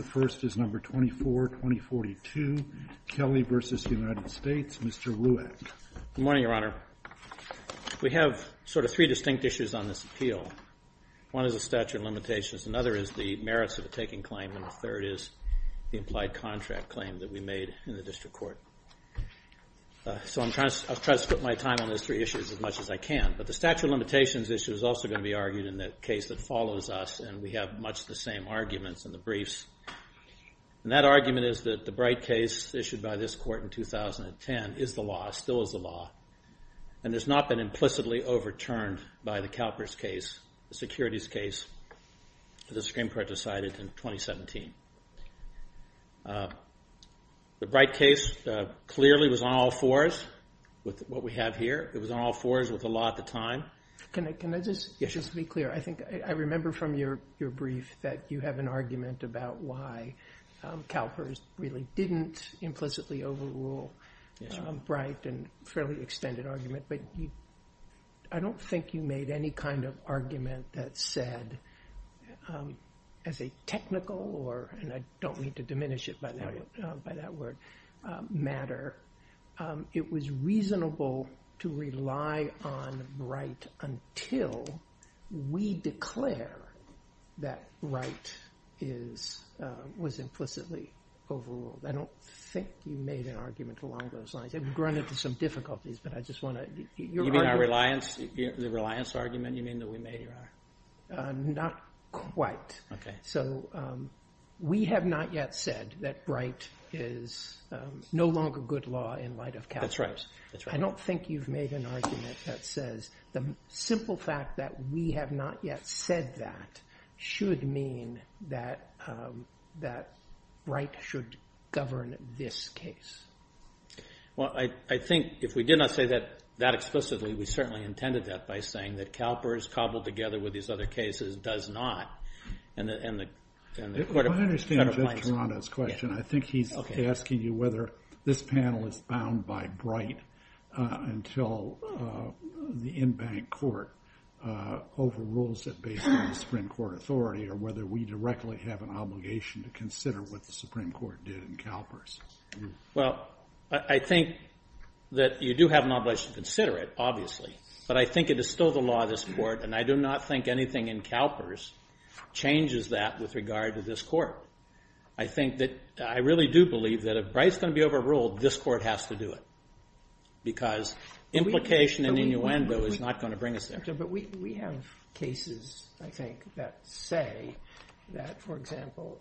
The first is number 24, 2042, Kelly v. United States. Mr. Ruegg. Good morning, Your Honor. We have sort of three distinct issues on this appeal. One is the statute of limitations, another is the merits of the taking claim, and the third is the implied contract claim that we made in the district court. So I'll try to split my time on those three issues as much as I can. But the statute of limitations issue is also going to be argued in the case that follows us, and we have much the same arguments in the briefs. And that argument is that the Bright case issued by this court in 2010 is the law, still is the law, and has not been implicitly overturned by the CalPERS case, the securities case that the Supreme Court decided in 2017. The Bright case clearly was on all fours with what we have here. It was on all fours with the law at the time. Can I just be clear? I think I remember from your brief that you have an argument about why CalPERS really didn't implicitly overrule Bright, a fairly extended argument, but I don't think you made any kind of argument that said, as a technical or, and I don't until we declare that Bright is, was implicitly overruled. I don't think you made an argument along those lines. I've run into some difficulties, but I just want to, your argument. You mean our reliance, the reliance argument you mean that we made here? Not quite. So we have not yet said that Bright is no longer good law in light of CalPERS. That's right. That's right. I don't think you've made an argument that says the simple fact that we have not yet said that should mean that Bright should govern this case. Well, I think if we did not say that that explicitly, we certainly intended that by saying that CalPERS cobbled together with these other cases does not, and the, and the court of, and the court of license. I understand Jeff Toronto's question. I think he's asking you whether this panel is bound by Bright until the in-bank court overrules it based on the Supreme Court authority or whether we directly have an obligation to consider what the Supreme Court did in CalPERS. Well, I think that you do have an obligation to consider it, obviously, but I think it is still the law of this court, and I do not think anything in CalPERS changes that with regard to this court. I think that, I really do believe that if Bright's going to be overruled, this court has to do it, because implication and innuendo is not going to bring us there. But we, we have cases, I think, that say that, for example,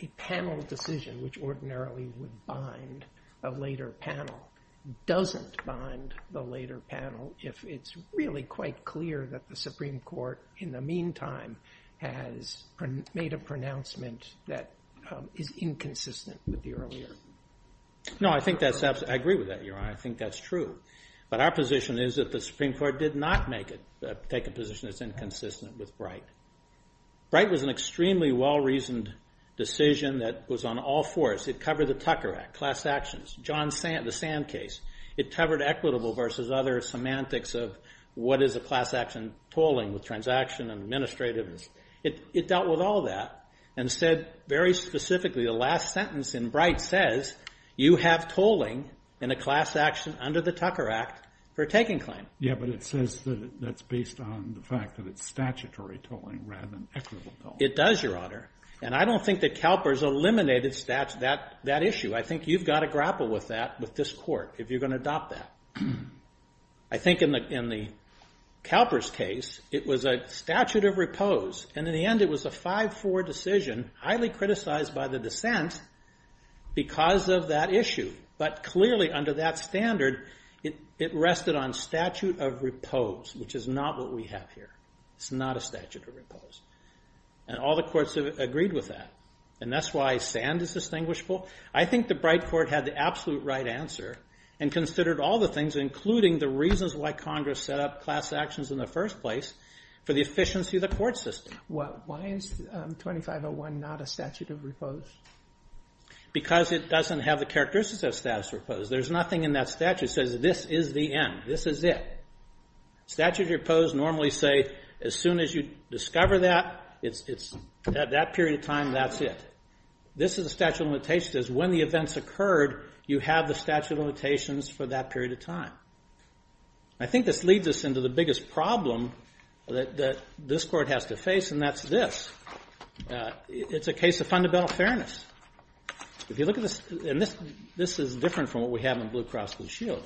a panel decision which ordinarily would bind a later panel doesn't bind the later panel if it's really quite clear that the Supreme Court, in the meantime, has made a pronouncement that is inconsistent with the earlier. No, I think that's, I agree with that, Your Honor. I think that's true. But our position is that the Supreme Court did not make it, take a position that's inconsistent with Bright. Bright was an extremely well-reasoned decision that was on all fours. It covered the Tucker Act, class actions, John Sand, the Sand case. It covered equitable versus other semantics of what is a class action tolling with transaction and administrativeness. It, it dealt with all that and said very specifically, the last sentence in Bright says, you have tolling in a class action under the Tucker Act for taking claim. Yeah, but it says that that's based on the fact that it's statutory tolling rather than equitable tolling. It does, Your Honor. And I don't think that Kalper's eliminated that, that issue. I think you've got to grapple with that with this court if you're going to adopt that. I think in the, in the Kalper's case, it was a statute of repose. And in the end, it was a 5-4 decision, highly criticized by the dissent because of that issue. But clearly under that standard, it rested on statute of repose, which is not what we have here. It's not a statute of repose. And all the courts have agreed with that. And that's why Sand is distinguishable. I think the Bright court had the absolute right answer and considered all the things, including the reasons why Congress set up class actions in the first place for the efficiency of the court system. Why is 2501 not a statute of repose? Because it doesn't have the characteristics of a statute of repose. There's nothing in that statute that says this is the end. This is it. Statute of repose normally say as soon as you discover that, it's, it's, at that period of time, that's it. This is a statute of limitation that says when the events occurred, you have the statute of limitations for that period of time. I think this leads us into the biggest problem that this court has to face, and that's this. It's a case of fundamental fairness. If you look at this, and this, this is different from what we have in Blue Cross Blue Shield.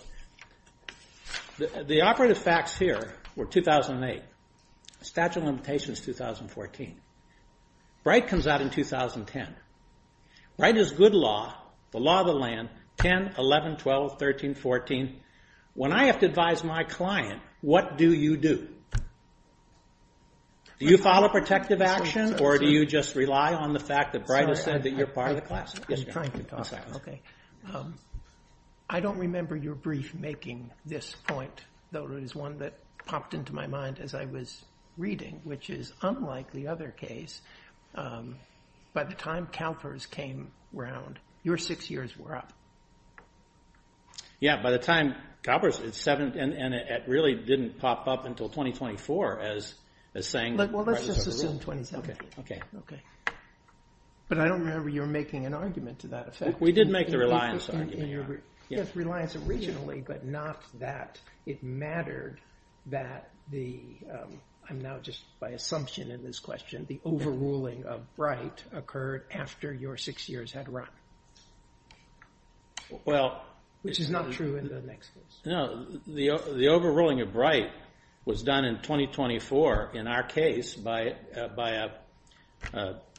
The operative facts here were 2008. Statute of limitation is 2014. Bright comes out in 2010. Bright is good law, the law of the land, 10, 11, 12, 13, 14. When I have to advise my client, what do you do? Do you follow protective action, or do you just rely on the fact that Bright has said that you're part of the class? I'm just trying to talk. Okay. I don't remember your brief making this point, though it is one that popped into my mind as I was reading, which is unlike the other case. By the time CalPERS came around, your six years were up. Yeah, by the time CalPERS, and it really didn't pop up until 2024 as saying Bright is over. Let's just assume 2017, okay. I don't remember your making an argument to that effect. We did make the reliance argument. Reliance originally, but not that. It mattered that the, I'm now just by assumption in this case, after your six years had run, which is not true in the next case. The overruling of Bright was done in 2024 in our case by a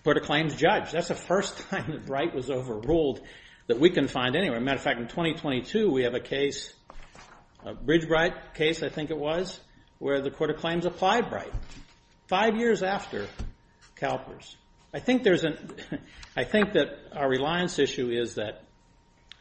court of claims judge. That's the first time that Bright was overruled that we can find anywhere. Matter of fact, in 2022, we have a case, a Bridge Bright case, I think it was, where the court of claims applied Bright five years after CalPERS. I think there's an, I think that our reliance issue is that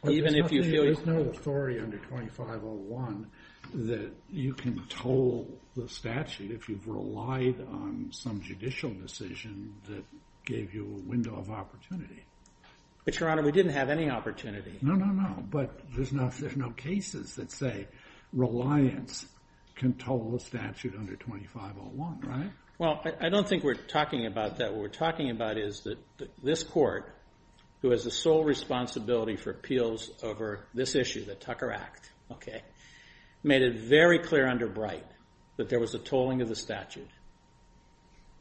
even if you feel- There's no authority under 2501 that you can toll the statute if you've relied on some judicial decision that gave you a window of opportunity. But, Your Honor, we didn't have any opportunity. No, no, no, but there's no cases that say reliance can toll a statute under 2501. Well, I don't think we're talking about that. What we're talking about is that this court, who has the sole responsibility for appeals over this issue, the Tucker Act, made it very clear under Bright that there was a tolling of the statute.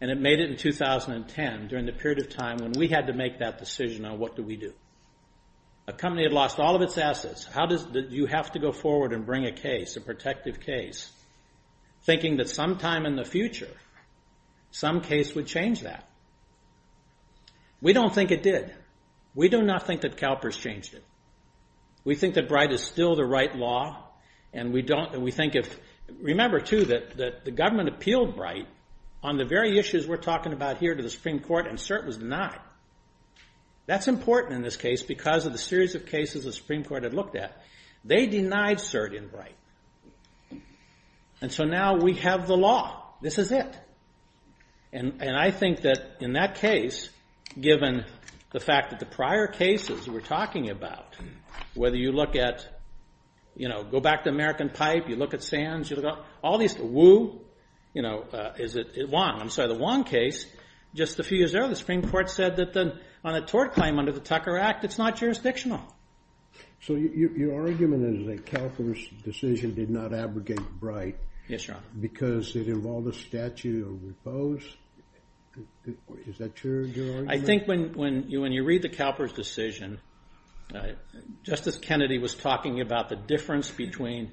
It made it in 2010, during the period of time when we had to make that decision on what do we do. A company had lost all of its assets. You have to go forward and bring a case, a protective case. Some time in the future, some case would change that. We don't think it did. We do not think that CalPERS changed it. We think that Bright is still the right law, and we don't, and we think if, remember, too, that the government appealed Bright on the very issues we're talking about here to the Supreme Court, and cert was denied. That's important in this case because of the series of cases the Supreme Court had looked at. They denied cert in Bright, and so now we have the law. This is it, and I think that in that case, given the fact that the prior cases we're talking about, whether you look at, you know, go back to American Pipe, you look at Sands, you look at all these, Wu, you know, is it Wong? I'm sorry, the Wong case, just a few years ago, the Supreme Court said that on a tort claim under the Tucker Act, it's not jurisdictional. So your argument is that CalPERS decision did not abrogate Bright because it involved a statute of repose? Is that your argument? I think when you read the CalPERS decision, Justice Kennedy was talking about the difference between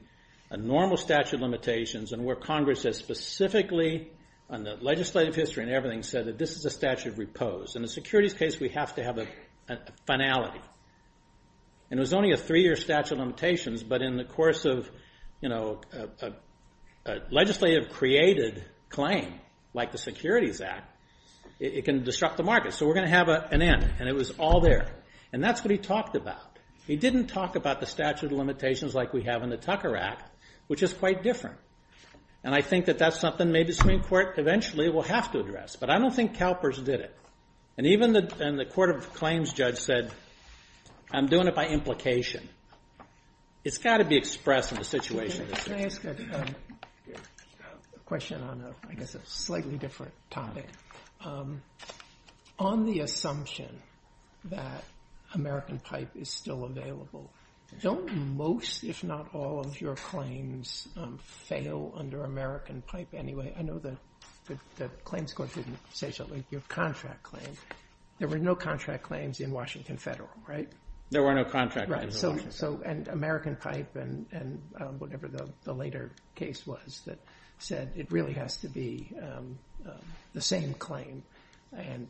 a normal statute of limitations and where Congress has specifically, on the legislative history and everything, said that this is a statute of repose. In the securities case, we have to have a finality, and it was only a three-year statute of limitations, but in the course of, you know, a legislative-created claim like the Securities Act, it can disrupt the market. So we're going to have an end, and it was all there, and that's what he talked about. He didn't talk about the statute of limitations like we have in the Tucker Act, which is quite different, and I think that that's something maybe the Supreme Court eventually will have to address, but I don't think CalPERS did it. And even the Court of Claims judge said, I'm doing it by implication. It's got to be expressed in the situation. Can I ask a question on a slightly different topic? On the assumption that American Pipe is still available, don't most, if not all, of your claims fail under American Pipe anyway? I know the claims court didn't say so, like your contract claim. There were no contract claims in Washington Federal, right? There were no contract claims in Washington Federal. Right, so, and American Pipe and whatever the later case was that said it really has to be the same claim, and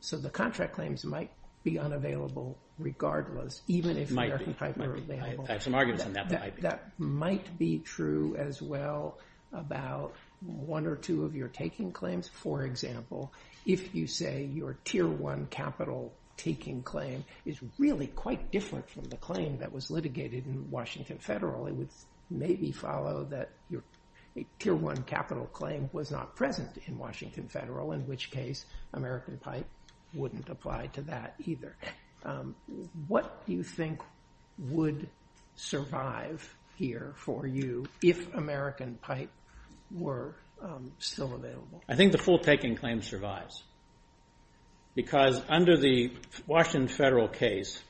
so the contract claims might be unavailable regardless, even if American Pipe were available. Might be. I have some arguments on that, but might be. That might be true as well about one or two of your taking claims. For example, if you say your Tier 1 capital taking claim is really quite different from the claim that was litigated in Washington Federal, it would maybe follow that your Tier 1 capital claim was not present in Washington Federal, in which case American Pipe wouldn't apply to that either. What do you think would survive here for you if American Pipe were still available? I think the full taking claim survives, because under the Washington Federal case,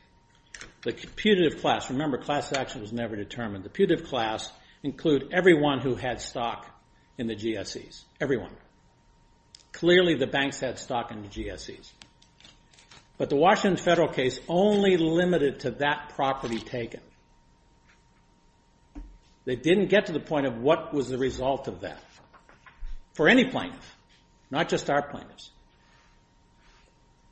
the putative class, remember class action was never determined, the putative class include everyone who had stock in the GSEs, everyone. Clearly the banks had stock in the GSEs, but the Washington Federal case only limited to that property taken. They didn't get to the point of what was the result of that, for any plaintiff, not just our plaintiffs.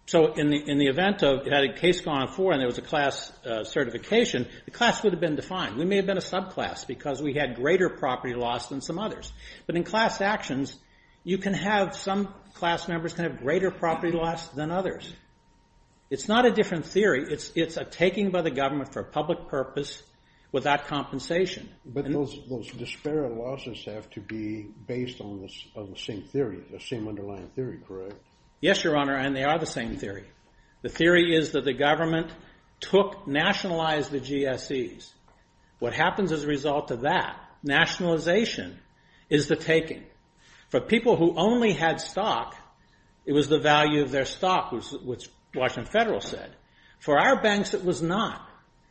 So in the event of it had a case gone for and there was a class certification, the class would have been defined. We may have been a subclass because we had greater property loss than some others, but in class actions, you can have some class members can have greater property loss than others. It's not a different theory, it's a taking by the government for public purpose without compensation. But those disparate losses have to be based on the same theory, the same underlying theory, correct? Yes, Your Honor, and they are the same theory. The theory is that the government took, nationalized the GSEs. What happens as a result of that, nationalization is the taking. For people who only had stock, it was the value of their stock, which Washington Federal said. For our banks, it was not.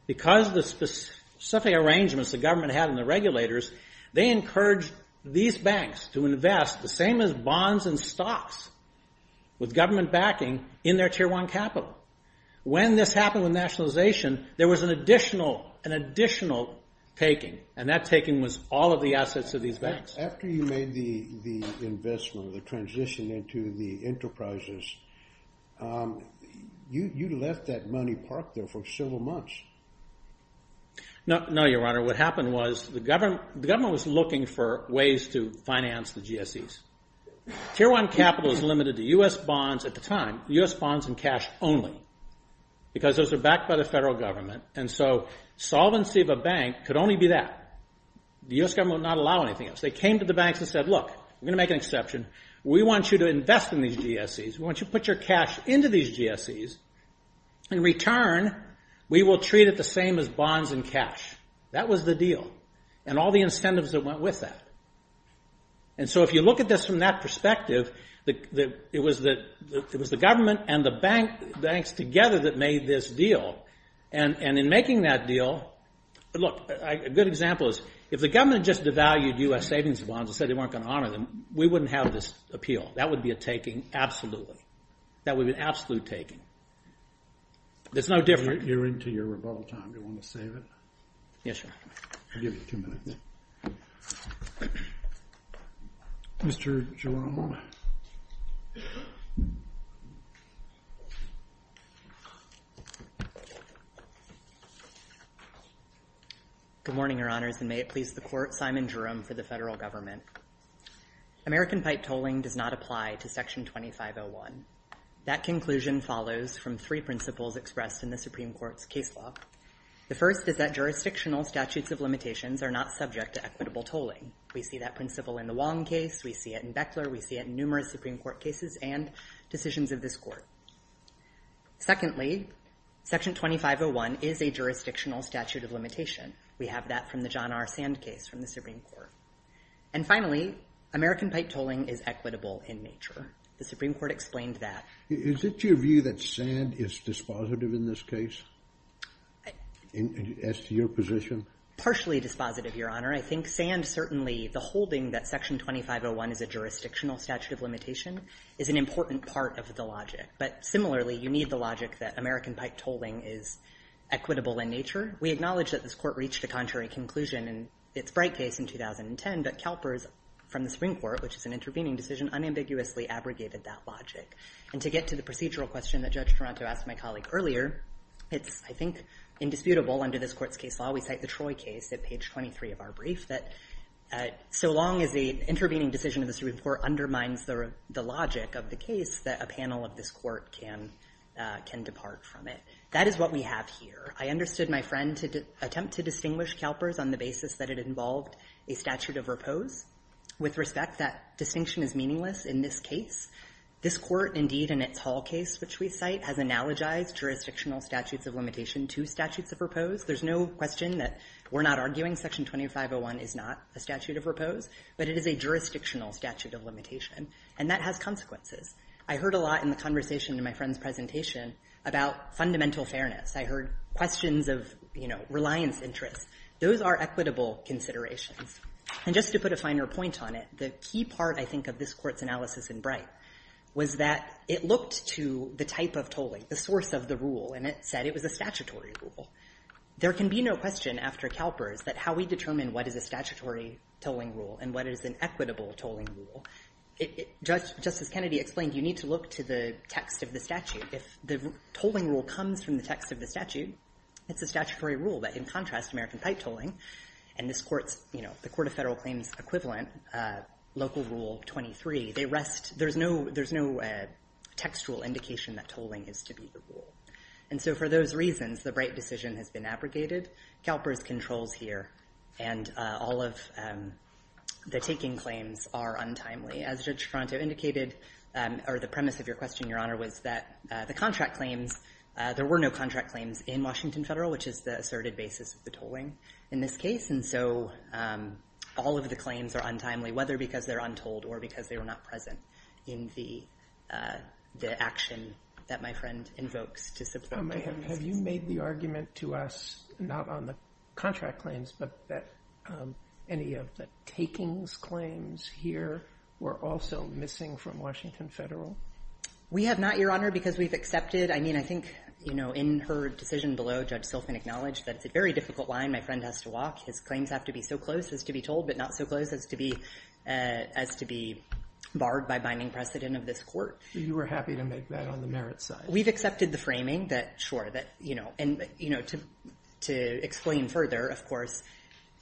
Because of the specific arrangements the government had and the regulators, they encouraged these banks to invest the same as bonds and stocks with government backing in their tier one capital. When this happened with nationalization, there was an additional taking, and that taking was all of the assets of these banks. After you made the investment, the transition into the enterprises, you left that money parked there for several months. No, Your Honor, what happened was the government was looking for ways to finance the GSEs. Tier one capital is limited to U.S. bonds at the time, U.S. bonds and cash only, because those are backed by the federal government, and so solvency of a bank could only be that. The U.S. government would not allow anything else. They came to the banks and said, look, we're going to make an exception. We want you to invest in these GSEs. We want you to put your cash into these GSEs. In return, we will treat it the same as bonds and cash. That was the deal, and all the incentives that went with that. And so if you look at this from that perspective, it was the government and the banks together that made this deal, and in making that deal, look, a good example is if the government just devalued U.S. savings bonds and said they weren't going to honor them, we wouldn't have this appeal. That would be a taking, absolutely. That would be an absolute taking. There's no difference. You're into your rebuttal time. Do you want to save it? Yes, Your Honor. I'll give you two minutes. Mr. Jerome. Good morning, Your Honors, and may it please the Court, Simon Jerome for the federal government. American pipe tolling does not apply to Section 2501. That conclusion follows from three principles expressed in the Supreme Court's case law. The first is that jurisdictional statutes of limitations are not subject to equitable tolling. We see that principle in the Wong case. We see it in Beckler. We see it in numerous Supreme Court cases and decisions of this Secondly, Section 2501 is a jurisdictional statute of limitation. We have that from the John R. Sand case from the Supreme Court. And finally, American pipe tolling is equitable in nature. The Supreme Court explained that. Is it your view that Sand is dispositive in this case, as to your position? Partially dispositive, Your Honor. I think Sand certainly, the holding that Section 2501 is a jurisdictional statute of limitation is an important part of the logic. But similarly, you need the logic that American pipe tolling is equitable in nature. We acknowledge that this Court reached a contrary conclusion in its Bright case in 2010, but Kalpers from the Supreme Court, which is an intervening decision, unambiguously abrogated that logic. And to get to the procedural question that Judge Toronto asked my colleague earlier, it's, I think, indisputable under this Court's case law, we cite the Troy case at page 23 of our brief, that so long as the intervening decision of the Supreme Court undermines the logic of the case, that a panel of this Court can depart from it. That is what we have here. I understood my friend to attempt to distinguish Kalpers on the basis that it involved a statute of repose. With respect, that distinction is meaningless in this case. This Court, indeed, in its Hall case, which we cite, has analogized jurisdictional statutes of limitation to statutes of repose. There's no question that we're not arguing Section 2501 is not a statute of repose, but it is a jurisdictional statute of limitation, and that has consequences. I heard a lot in the conversation in my friend's presentation about fundamental fairness. I heard questions of, you know, reliance interests. Those are equitable considerations. And just to put a finer point on it, the key part, I think, of this case was that it looked to the type of tolling, the source of the rule, and it said it was a statutory rule. There can be no question after Kalpers that how we determine what is a statutory tolling rule and what is an equitable tolling rule. Justice Kennedy explained you need to look to the text of the statute. If the tolling rule comes from the text of the statute, it's a statutory rule. But in contrast, American pipe tolling and this Court's, you know, the Court of Federal Claims' equivalent local rule 23, they rest, there's no textual indication that tolling is to be the rule. And so for those reasons, the Bright decision has been abrogated. Kalpers controls here, and all of the taking claims are untimely. As Judge Franto indicated, or the premise of your question, Your Honor, was that the contract claims, there were no contract claims in Washington Federal, which is the case. And so all of the claims are untimely, whether because they're untold or because they were not present in the action that my friend invokes to substitute. Have you made the argument to us, not on the contract claims, but that any of the takings claims here were also missing from Washington Federal? We have not, Your Honor, because we've accepted. I mean, I think, you know, in her His claims have to be so close as to be told, but not so close as to be barred by binding precedent of this Court. You were happy to make that on the merits side. We've accepted the framing that, sure, that, you know, and, you know, to explain further, of course,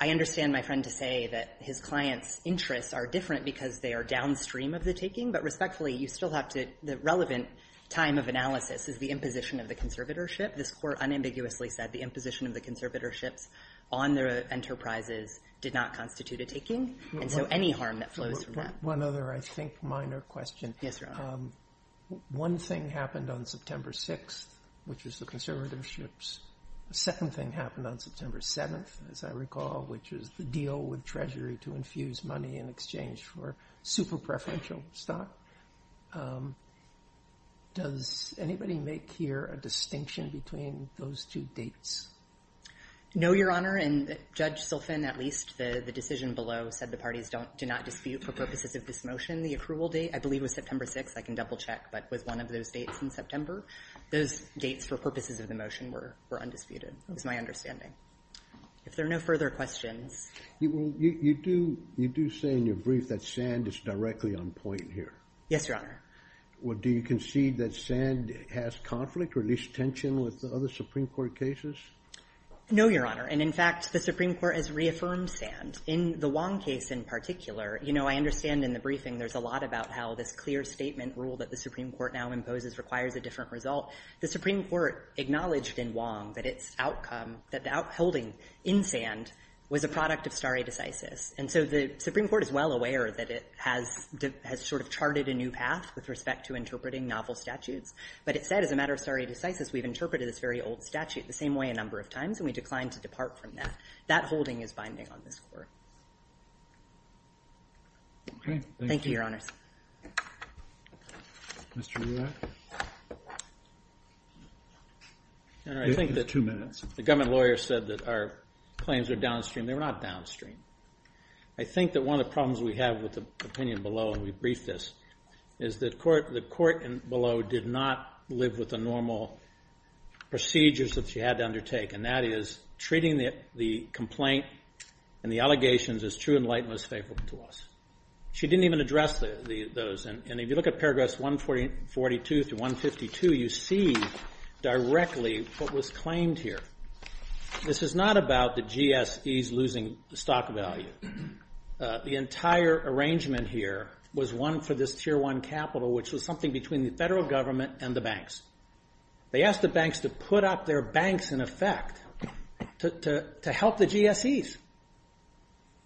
I understand my friend to say that his clients' interests are different because they are downstream of the taking. But respectfully, you still have to the relevant time of analysis is the imposition of the conservatorship. This Court unambiguously said the imposition of the conservatorship on their enterprises did not constitute a taking. And so any harm that flows from that. One other, I think, minor question. Yes, Your Honor. One thing happened on September 6th, which is the conservatorships. The second thing happened on September 7th, as I recall, which is the deal with Treasury to infuse money in exchange for super preferential stock. Does anybody make here a distinction between those two dates? No, Your Honor. And Judge Silfen, at least, the decision below, said the parties do not dispute for purposes of this motion the approval date. I believe it was September 6th. I can double check. But with one of those dates in September, those dates for purposes of the motion were undisputed. That was my understanding. If there are no further questions. You do say in your brief that Sand is directly on point here. Yes, Your Honor. Well, do you concede that Sand has conflict or at least tension with other Supreme Court cases? No, Your Honor. And in fact, the Supreme Court has reaffirmed Sand. In the Wong case in particular, you know, I understand in the briefing there's a lot about how this clear statement rule that the Supreme Court now imposes requires a different result. The Supreme Court acknowledged in Wong that its outcome, that the outholding in Sand was a product of stare decisis. And so the Supreme Court is well aware that it has sort of charted a new path with respect to interpreting novel statutes. But it said as a matter of stare decisis, we've interpreted this very old statute the same way a number of times. And we declined to depart from that. That holding is binding on this court. Okay. Thank you, Your Honors. Mr. Rurak. You have two minutes. The government lawyer said that our claims are downstream. They're not downstream. I think that one of the problems we have with the opinion below, and we briefed this, is that the court below did not live with the normal procedures that she had to undertake. And that is treating the complaint and the allegations as true and light and most faithful to us. She didn't even address those. And if you look at paragraphs 142 through 152, you see directly what was claimed here. This is not about the GSEs losing stock value. The entire arrangement here was one for this tier one capital, which was something between the federal government and the banks. They asked the banks to put up their banks in effect to help the GSEs.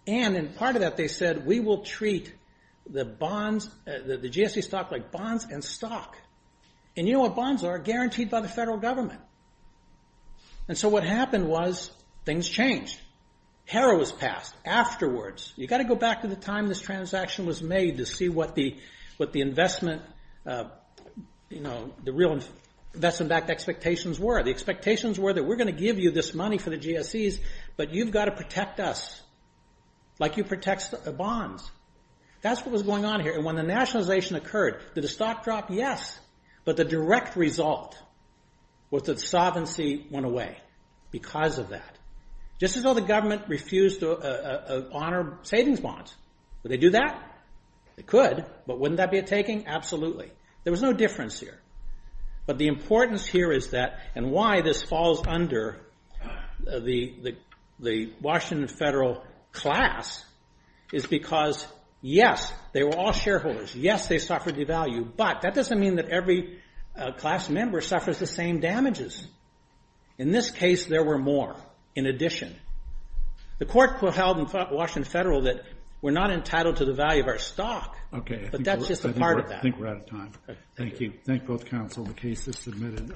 And in part of that, they said, we will treat the GSE stock like bonds and stock. And you know what bonds are? Guaranteed by the federal government. And so what happened was things changed. Hera was passed afterwards. You've got to go back to the time this transaction was made to see what the investment, you know, the real investment backed expectations were. The expectations were that we're going to give you this money for the GSEs, but you've got to protect us like you protect the bonds. That's what was going on here. And when the nationalization occurred, did the stock drop? Yes. But the direct result was that the sovereignty went away because of that. Just as though the government refused to honor savings bonds. Would they do that? They could. But wouldn't that be a taking? Absolutely. There was no difference here. But the importance here is that and why this falls under the Washington federal class is because, yes, they were all shareholders. Yes, they suffered devalue. But that doesn't mean that every class member suffers the same damages. In this case, there were more in addition. The court held in Washington federal that we're not entitled to the value of our stock, but that's just a part of that. I think we're out of time. Thank you. Thank both counsel. The case is submitted.